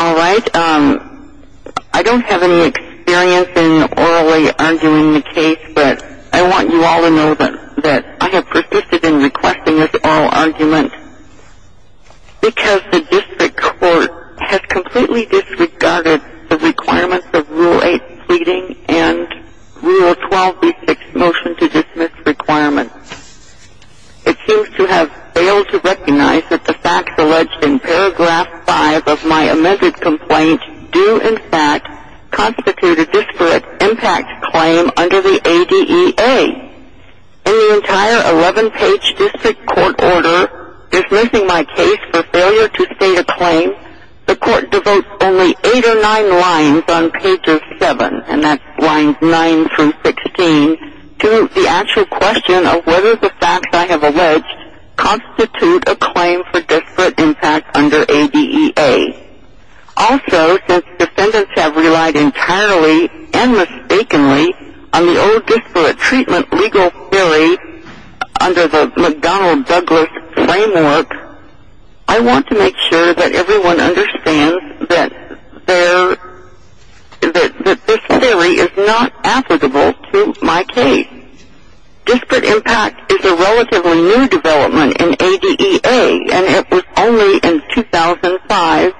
Alright, I don't have any experience in orally arguing the case, but I want you all to know that I have persisted in requesting this oral argument because the district court has completely disregarded the requirements of Rule 8 pleading and Rule 12b6 motion to dismiss requirements. It seems to have failed to recognize that the facts alleged in paragraph 5 of my amended complaint do in fact constitute a disparate impact claim under the ADEA. In the entire 11-page district court order dismissing my case for failure to state a claim, the court devotes only 8 or 9 lines on pages 7, and that's lines 9 through 16, to the actual question of whether the facts I have alleged constitute a claim for disparate impact under ADEA. Also, since defendants have relied entirely and mistakenly on the old disparate treatment legal theory under the McDonnell-Douglas framework, I want to make sure that everyone understands that this theory is not applicable to my case. Disparate impact is a relatively new development in ADEA, and it was only in 2005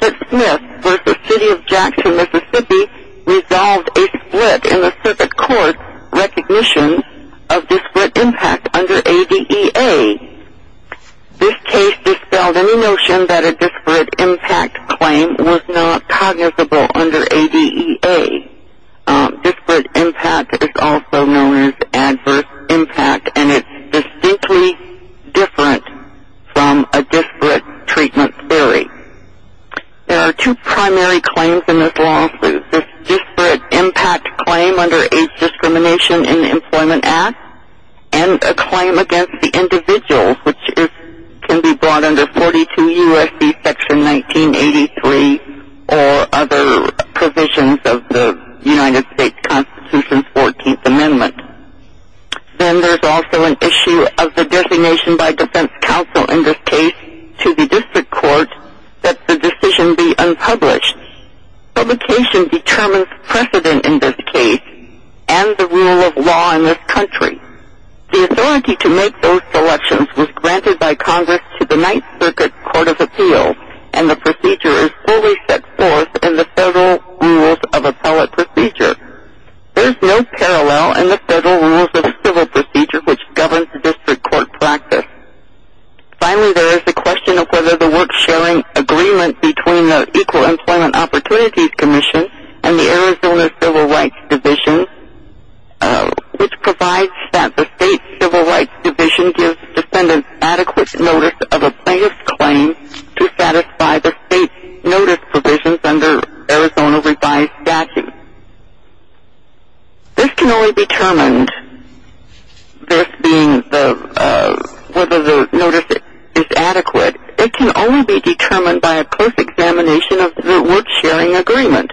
that Smith v. City of Jackson, Mississippi, resolved a split in the circuit court recognition of disparate impact under ADEA. This case dispelled any notion that a disparate impact claim was not cognizable under ADEA. Disparate impact is also known as adverse impact, and it's distinctly different from a disparate treatment theory. There are two primary claims in this lawsuit, a disparate impact claim under age discrimination in the Employment Act, and a claim against the individual, which can be brought under 42 U.S.C. Section 1983 or other provisions of the United States Constitution's 14th Amendment. Then there's also an issue of the designation by defense counsel in this case to the district court that the decision be unpublished. Publication determines precedent in this case and the rule of law in this country. The authority to make those selections was granted by Congress to the Ninth Circuit Court of Appeals, and the procedure is fully set forth in the Federal Rules of Appellate Procedure. There's no parallel in the Federal Rules of Civil Procedure, which governs district court practice. Finally, there is the question of whether the work-sharing agreement between the Equal Employment Opportunities Commission and the Arizona Civil Rights Division, which provides that the state Civil Rights Division gives defendants adequate notice of a plaintiff's claim to satisfy the state's notice provisions under Arizona revised statute. This can only be determined, this being whether the notice is adequate, it can only be determined by a close examination of the work-sharing agreement.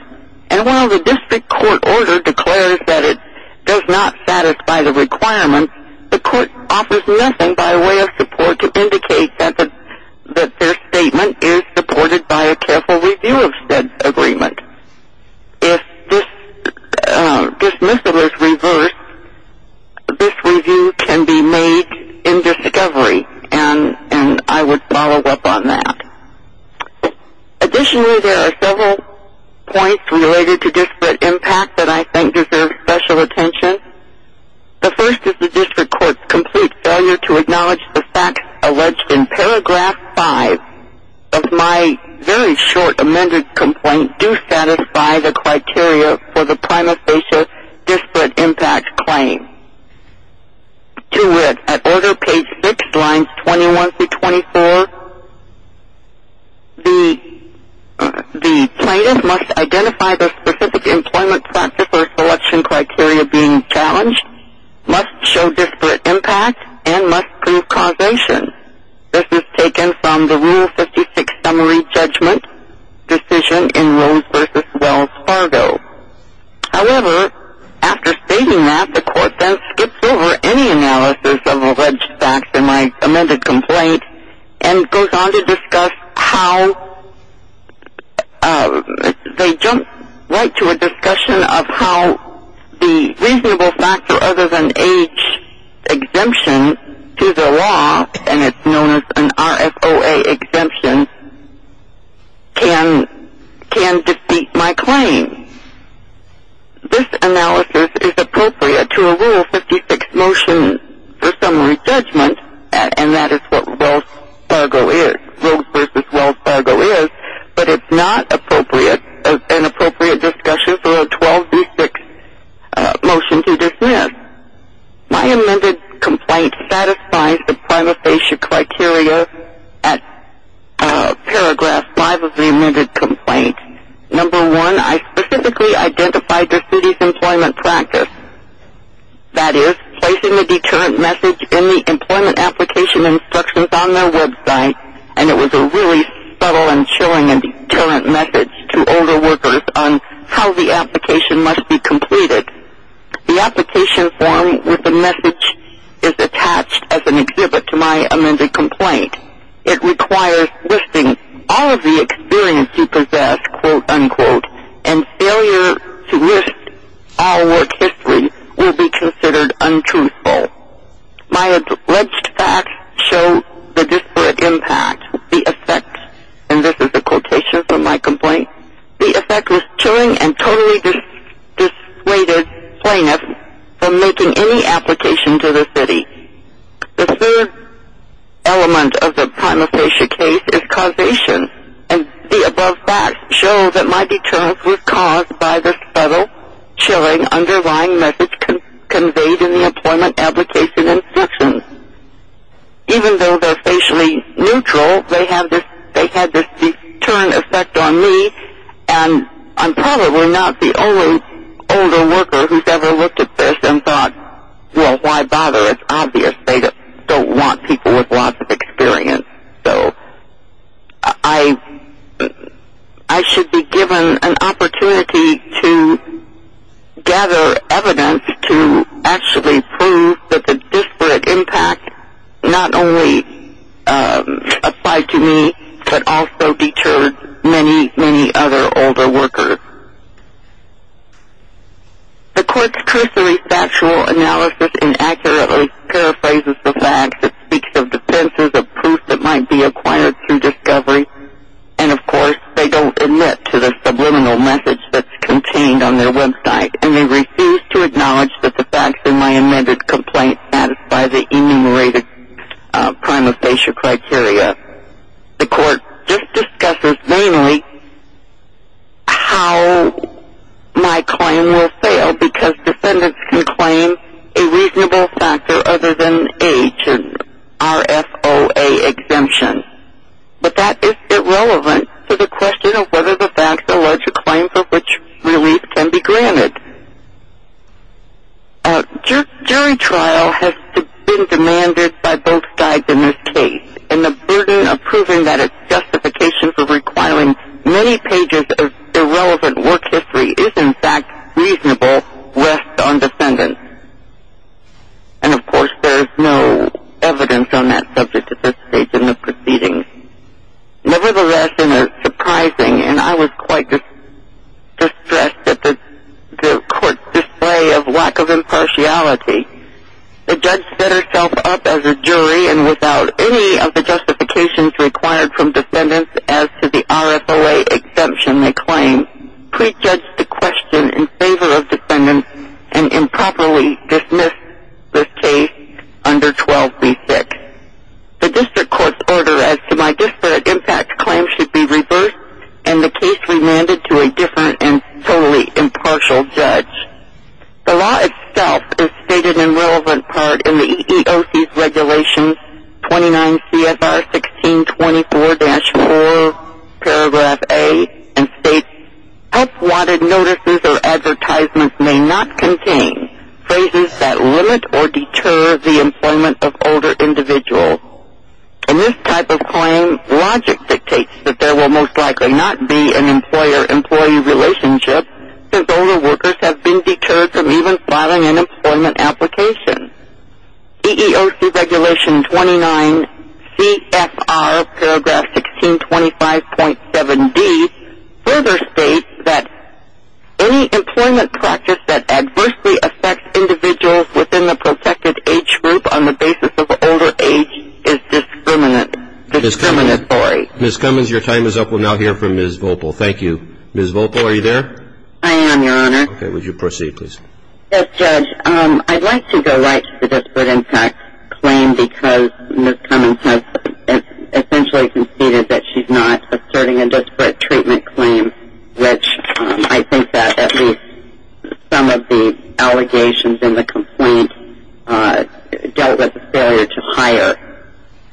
And while the district court order declares that it does not satisfy the requirements, the court offers nothing by way of support to indicate that their statement is supported by a careful review of said agreement. If this dismissal is reversed, this review can be made in discovery, and I would follow up on that. Additionally, there are several points related to disparate impact that I think deserve special attention. The first is the district court's complete failure to acknowledge the facts alleged in paragraph 5 of my very short amended complaint that do satisfy the criteria for the prima facie disparate impact claim. To which, at order page 6, lines 21 through 24, the plaintiff must identify the specific employment practice or selection criteria being challenged, must show disparate impact, and must prove causation. This is taken from the Rule 56 summary judgment decision in Rose v. Wells Fargo. However, after stating that, the court then skips over any analysis of alleged facts in my amended complaint and goes on to discuss how they jump right to a discussion of how the reasonable factor other than age exemption to the law, and it's known as an RFOA exemption, can defeat my claim. This analysis is appropriate to a Rule 56 motion for summary judgment, and that is what Wells Fargo is, Rose v. Wells Fargo is, but it's not appropriate, an appropriate discussion for a 1236 motion to dismiss. My amended complaint satisfies the prima facie criteria at paragraph 5 of the amended complaint. Number one, I specifically identified the city's employment practice. That is, placing the deterrent message in the employment application instructions on their website, and it was a really subtle and chilling and deterrent message to older workers on how the application must be completed. The application form with the message is attached as an exhibit to my amended complaint. It requires listing all of the experience you possess, quote, unquote, and failure to list all work history will be considered untruthful. My alleged facts show the disparate impact, the effect, and this is a quotation from my complaint, the effect was chilling and totally dissuaded plaintiffs from making any application to the city. The third element of the prima facie case is causation, and the above facts show that my deterrence was caused by the subtle, chilling, underlying message conveyed in the employment application instructions. Even though they're facially neutral, they had this deterrent effect on me, and I'm probably not the only older worker who's ever looked at this and thought, well, why bother? It's obvious. They don't want people with lots of experience. So I should be given an opportunity to gather evidence to actually prove that the disparate impact not only applied to me, but also deterred many, many other older workers. The court's cursory factual analysis inaccurately paraphrases the facts. It speaks of defenses of proof that might be acquired through discovery, and, of course, they don't admit to the subliminal message that's contained on their website, and they refuse to acknowledge that the facts in my amended complaint satisfy the enumerated prima facie criteria. The court just discusses mainly how my claim will fail, because defendants can claim a reasonable factor other than age and RFOA exemption. But that is irrelevant to the question of whether the facts allege a claim for which release can be granted. Jury trial has been demanded by both sides in this case, and the burden of proving that its justification for requiring many pages of irrelevant work history is, in fact, reasonable rests on defendants. And, of course, there is no evidence on that subject at this stage in the proceedings. Nevertheless, in a surprising, and I was quite distressed at the court's display of lack of impartiality, the judge set herself up as a jury and without any of the justifications required from defendants as to the RFOA exemption they claim, prejudged the question in favor of defendants and improperly dismissed this case under 12b-6. The district court's order as to my disparate impact claim should be reversed and the case remanded to a different and totally impartial judge. The law itself is stated in relevant part in the EEOC's Regulations 29 CFR 1624-4, Paragraph A, and states, Help-wanted notices or advertisements may not contain phrases that limit or deter the employment of older individuals. In this type of claim, logic dictates that there will most likely not be an employer-employee relationship since older workers have been deterred from even filing an employment application. EEOC Regulation 29 CFR Paragraph 1625.7d further states that any employment practice that adversely affects individuals within the protected age group on the basis of older age is discriminatory. Ms. Cummins, your time is up. We'll now hear from Ms. Voelpel. Thank you. Ms. Voelpel, are you there? I am, Your Honor. Okay. Would you proceed, please? Yes, Judge. I'd like to go right to the disparate impact claim because Ms. Cummins has essentially conceded that she's not asserting a disparate treatment claim, which I think that at least some of the allegations in the complaint dealt with a failure to hire.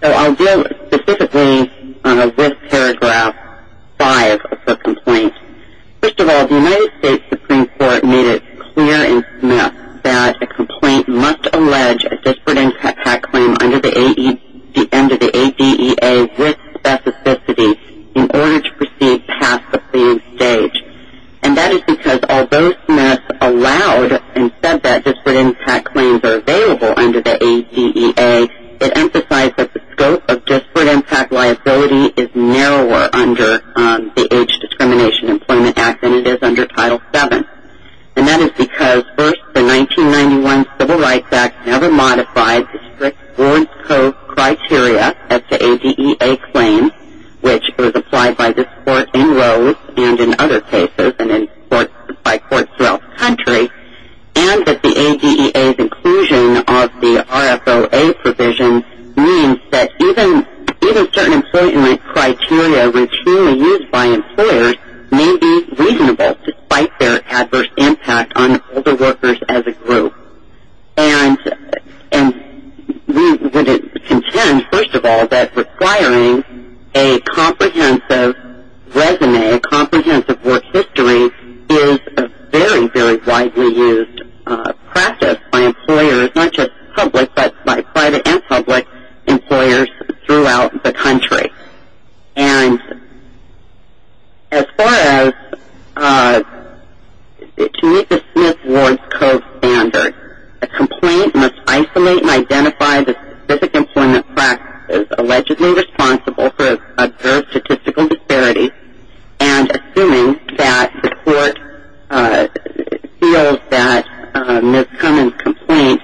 So I'll deal specifically with Paragraph 5 of the complaint. First of all, the United States Supreme Court made it clear in Smith that a complaint must allege a disparate impact claim under the ADEA with specificity in order to proceed past the pleaing stage. And that is because although Smith allowed and said that disparate impact claims are available under the ADEA, it emphasized that the scope of disparate impact liability is narrower under the Age Discrimination Employment Act than it is under Title VII. And that is because first, the 1991 Civil Rights Act never modified the strict Orange Cove criteria as the ADEA claims, which was applied by this Court in Rhodes and in other cases and by courts throughout the country, and that the ADEA's inclusion of the RFOA provision means that even certain employment criteria routinely used by employers may be reasonable despite their adverse impact on older workers as a group. And we would contend, first of all, that requiring a comprehensive resume, a comprehensive work history is a very, very widely used practice by employers, not just public, but by private and public employers throughout the country. And as far as to meet the Smith-Wards Cove standard, a complaint must isolate and identify the specific employment practice allegedly responsible for adverse statistical disparities, and assuming that the court feels that Ms. Kerman's complaint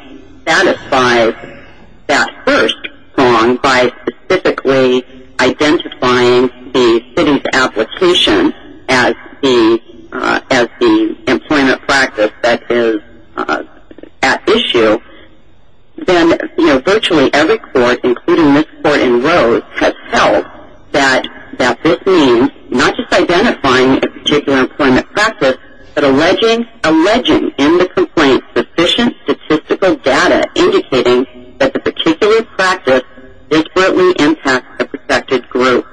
satisfies that first prong by specifically identifying the city's as the employment practice that is at issue, then virtually every court, including this Court in Rhodes, has felt that this means not just identifying a particular employment practice, but alleging in the complaint sufficient statistical data indicating that the particular practice disparately impacts the protected group.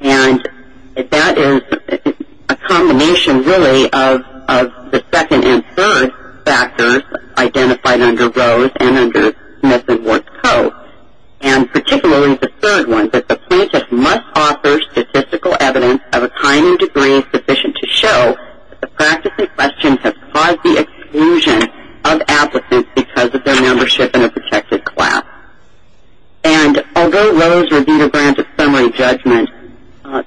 And that is a combination, really, of the second and third factors identified under Rhodes and under Smith-Wards Cove, and particularly the third one, that the plaintiff must offer statistical evidence of a kind and degree sufficient to show that the practice in question has caused the exclusion of applicants because of their membership in a protected class. And although Rhodes reviewed a grant of summary judgment,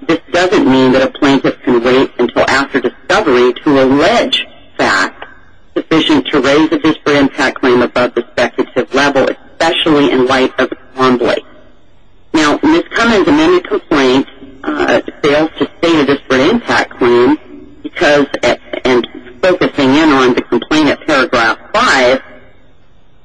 this doesn't mean that a plaintiff can wait until after discovery to allege facts sufficient to raise a disparate impact claim above the specific level, especially in light of its convoy. Now, Ms. Kerman's amended complaint fails to state a disparate impact claim because, and focusing in on the complaint at paragraph five,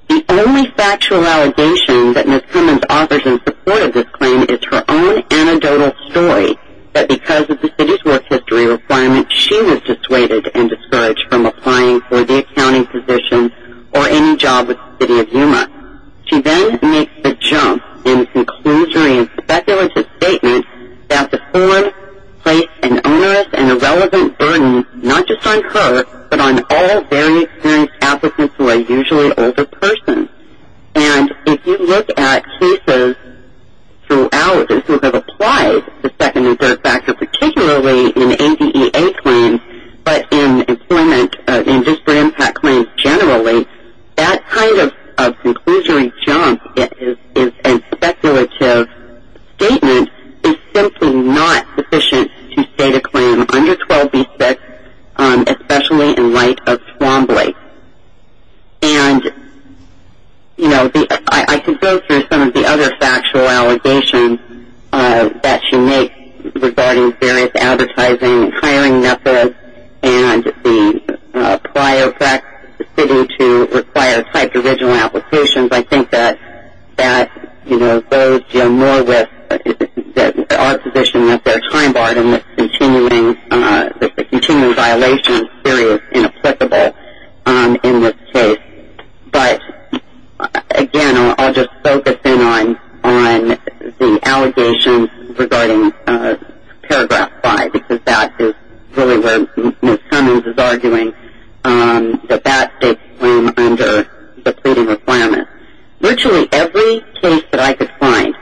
the only factual allegation that Ms. Kerman's offers in support of this claim is her own anecdotal story that because of the city's work history requirement, she was dissuaded and discouraged from applying for the accounting position or any job with the city of Yuma. She then makes the jump in a conclusory and speculative statement that the form placed an onerous and irrelevant burden not just on her, but on all very experienced applicants who are usually older persons. And if you look at cases throughout this who have applied the second and third factor, particularly in ADEA claims, but in employment industry impact claims generally, that kind of conclusory jump is a speculative statement is simply not sufficient to state a claim under 12B6, especially in light of swambly. And, you know, I can go through some of the other factual allegations that she makes regarding various advertising and hiring methods and the prior fact the city to require type of original applications. I think that, you know, those deal more with the odd position that they're time barred and the continuing violation theory is inapplicable in this case. But, again, I'll just focus in on the allegations regarding Paragraph 5, because that is really where Ms. Cummings is arguing that that states claim under the pleading requirement. Virtually every case that I could find,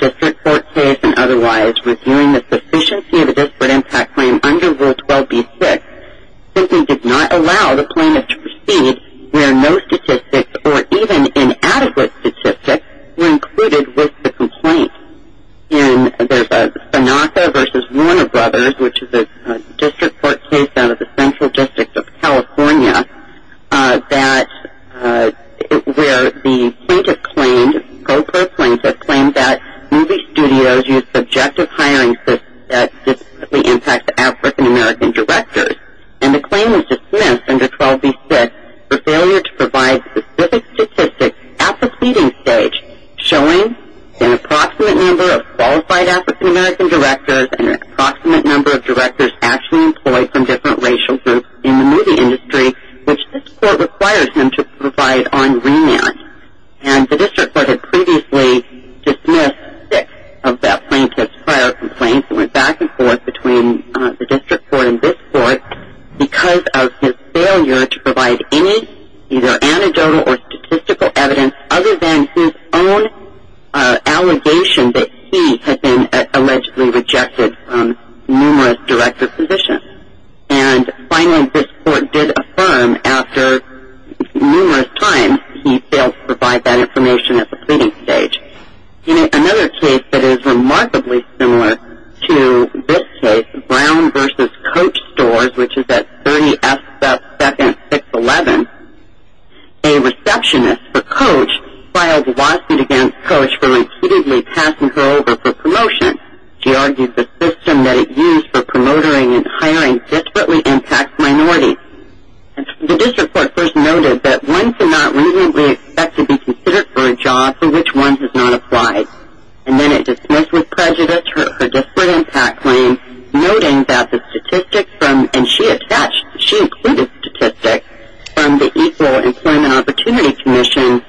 district court case and otherwise, reviewing the sufficiency of a disparate impact claim under Rule 12B6 simply did not allow the plaintiff to proceed where no statistics or even inadequate statistics were included with the complaint. And there's a Bonaca v. Warner Brothers, which is a district court case out of the Central District of California, where the plaintiff claimed, co-pro plaintiff, claimed that movie studios use subjective hiring systems that significantly impact African-American directors. And the claim was dismissed under 12B6 for failure to provide specific statistics at the pleading stage showing an approximate number of qualified African-American directors and an approximate number of directors actually employed from different racial groups in the movie industry, which this court requires them to provide on remand. And the district court had previously dismissed six of that plaintiff's prior complaints that went back and forth between the district court and this court because of his failure to provide any either anecdotal or statistical evidence other than his own allegation that he had been allegedly rejected from numerous director positions. And finally, this court did affirm after numerous times he failed to provide that information at the pleading stage. In another case that is remarkably similar to this case, Brown v. Coach Stores, which is at 30F2nd 611, a receptionist for Coach filed a lawsuit against Coach for repeatedly passing her over for promotion. She argued the system that it used for promotering and hiring desperately impacts minorities. The district court first noted that one cannot reasonably expect to be considered for a job for which one has not applied. And then it dismissed with prejudice her disparate impact claim, noting that the statistics from, and she included statistics from the Equal Employment Opportunity Commission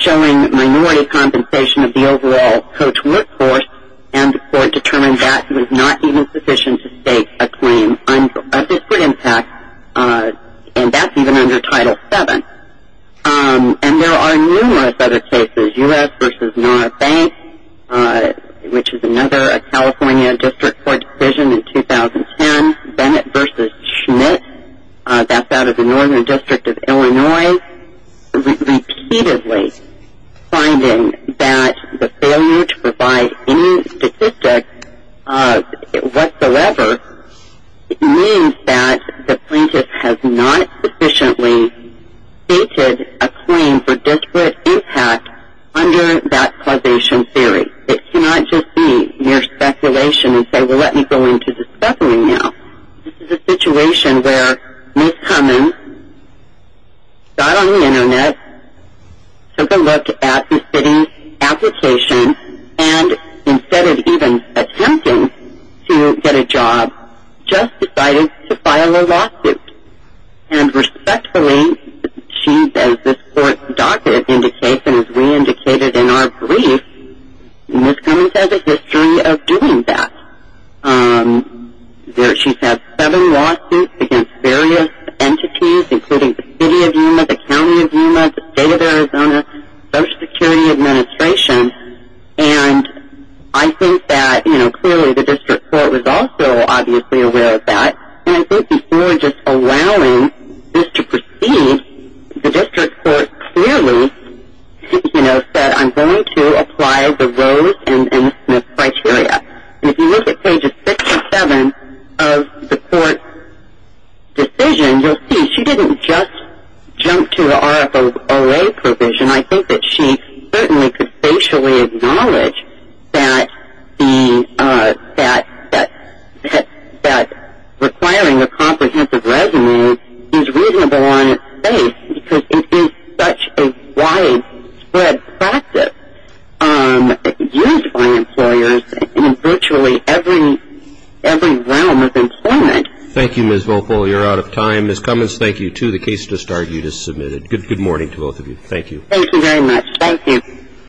showing minority compensation of the overall Coach workforce, and the court determined that he was not even sufficient to stake a claim of disparate impact, and that's even under Title VII. And there are numerous other cases, U.S. v. NARA Bank, which is another California district court decision in 2010, Bennett v. Schmidt, that's out of the Northern District of Illinois, repeatedly finding that the failure to provide any statistics whatsoever means that the plaintiff has not sufficiently stated a claim for disparate impact under that causation theory. It cannot just be mere speculation and say, well, let me go into the speckling now. This is a situation where Ms. Cummins got on the Internet, took a look at the city's application, and instead of even attempting to get a job, just decided to file a lawsuit. And respectfully, as this court's docket indicates and as we indicated in our brief, Ms. Cummins has a history of doing that. She's had seven lawsuits against various entities, including the city of Yuma, the county of Yuma, the state of Arizona, Social Security Administration, and I think that, you know, clearly the district court was also obviously aware of that. And I think before just allowing this to proceed, the district court clearly, you know, said I'm going to apply the Rose and Schmidt criteria. And if you look at pages six and seven of the court's decision, you'll see she didn't just jump to the RFO's OA provision. I think that she certainly could facially acknowledge that requiring a comprehensive resume is reasonable on its face because it is such a widespread practice used by employers in virtually every realm of employment. Thank you, Ms. Vogel. You're out of time. Ms. Cummins, thank you, too. The case to start you just submitted. Good morning to both of you. Thank you. Thank you very much. Thank you.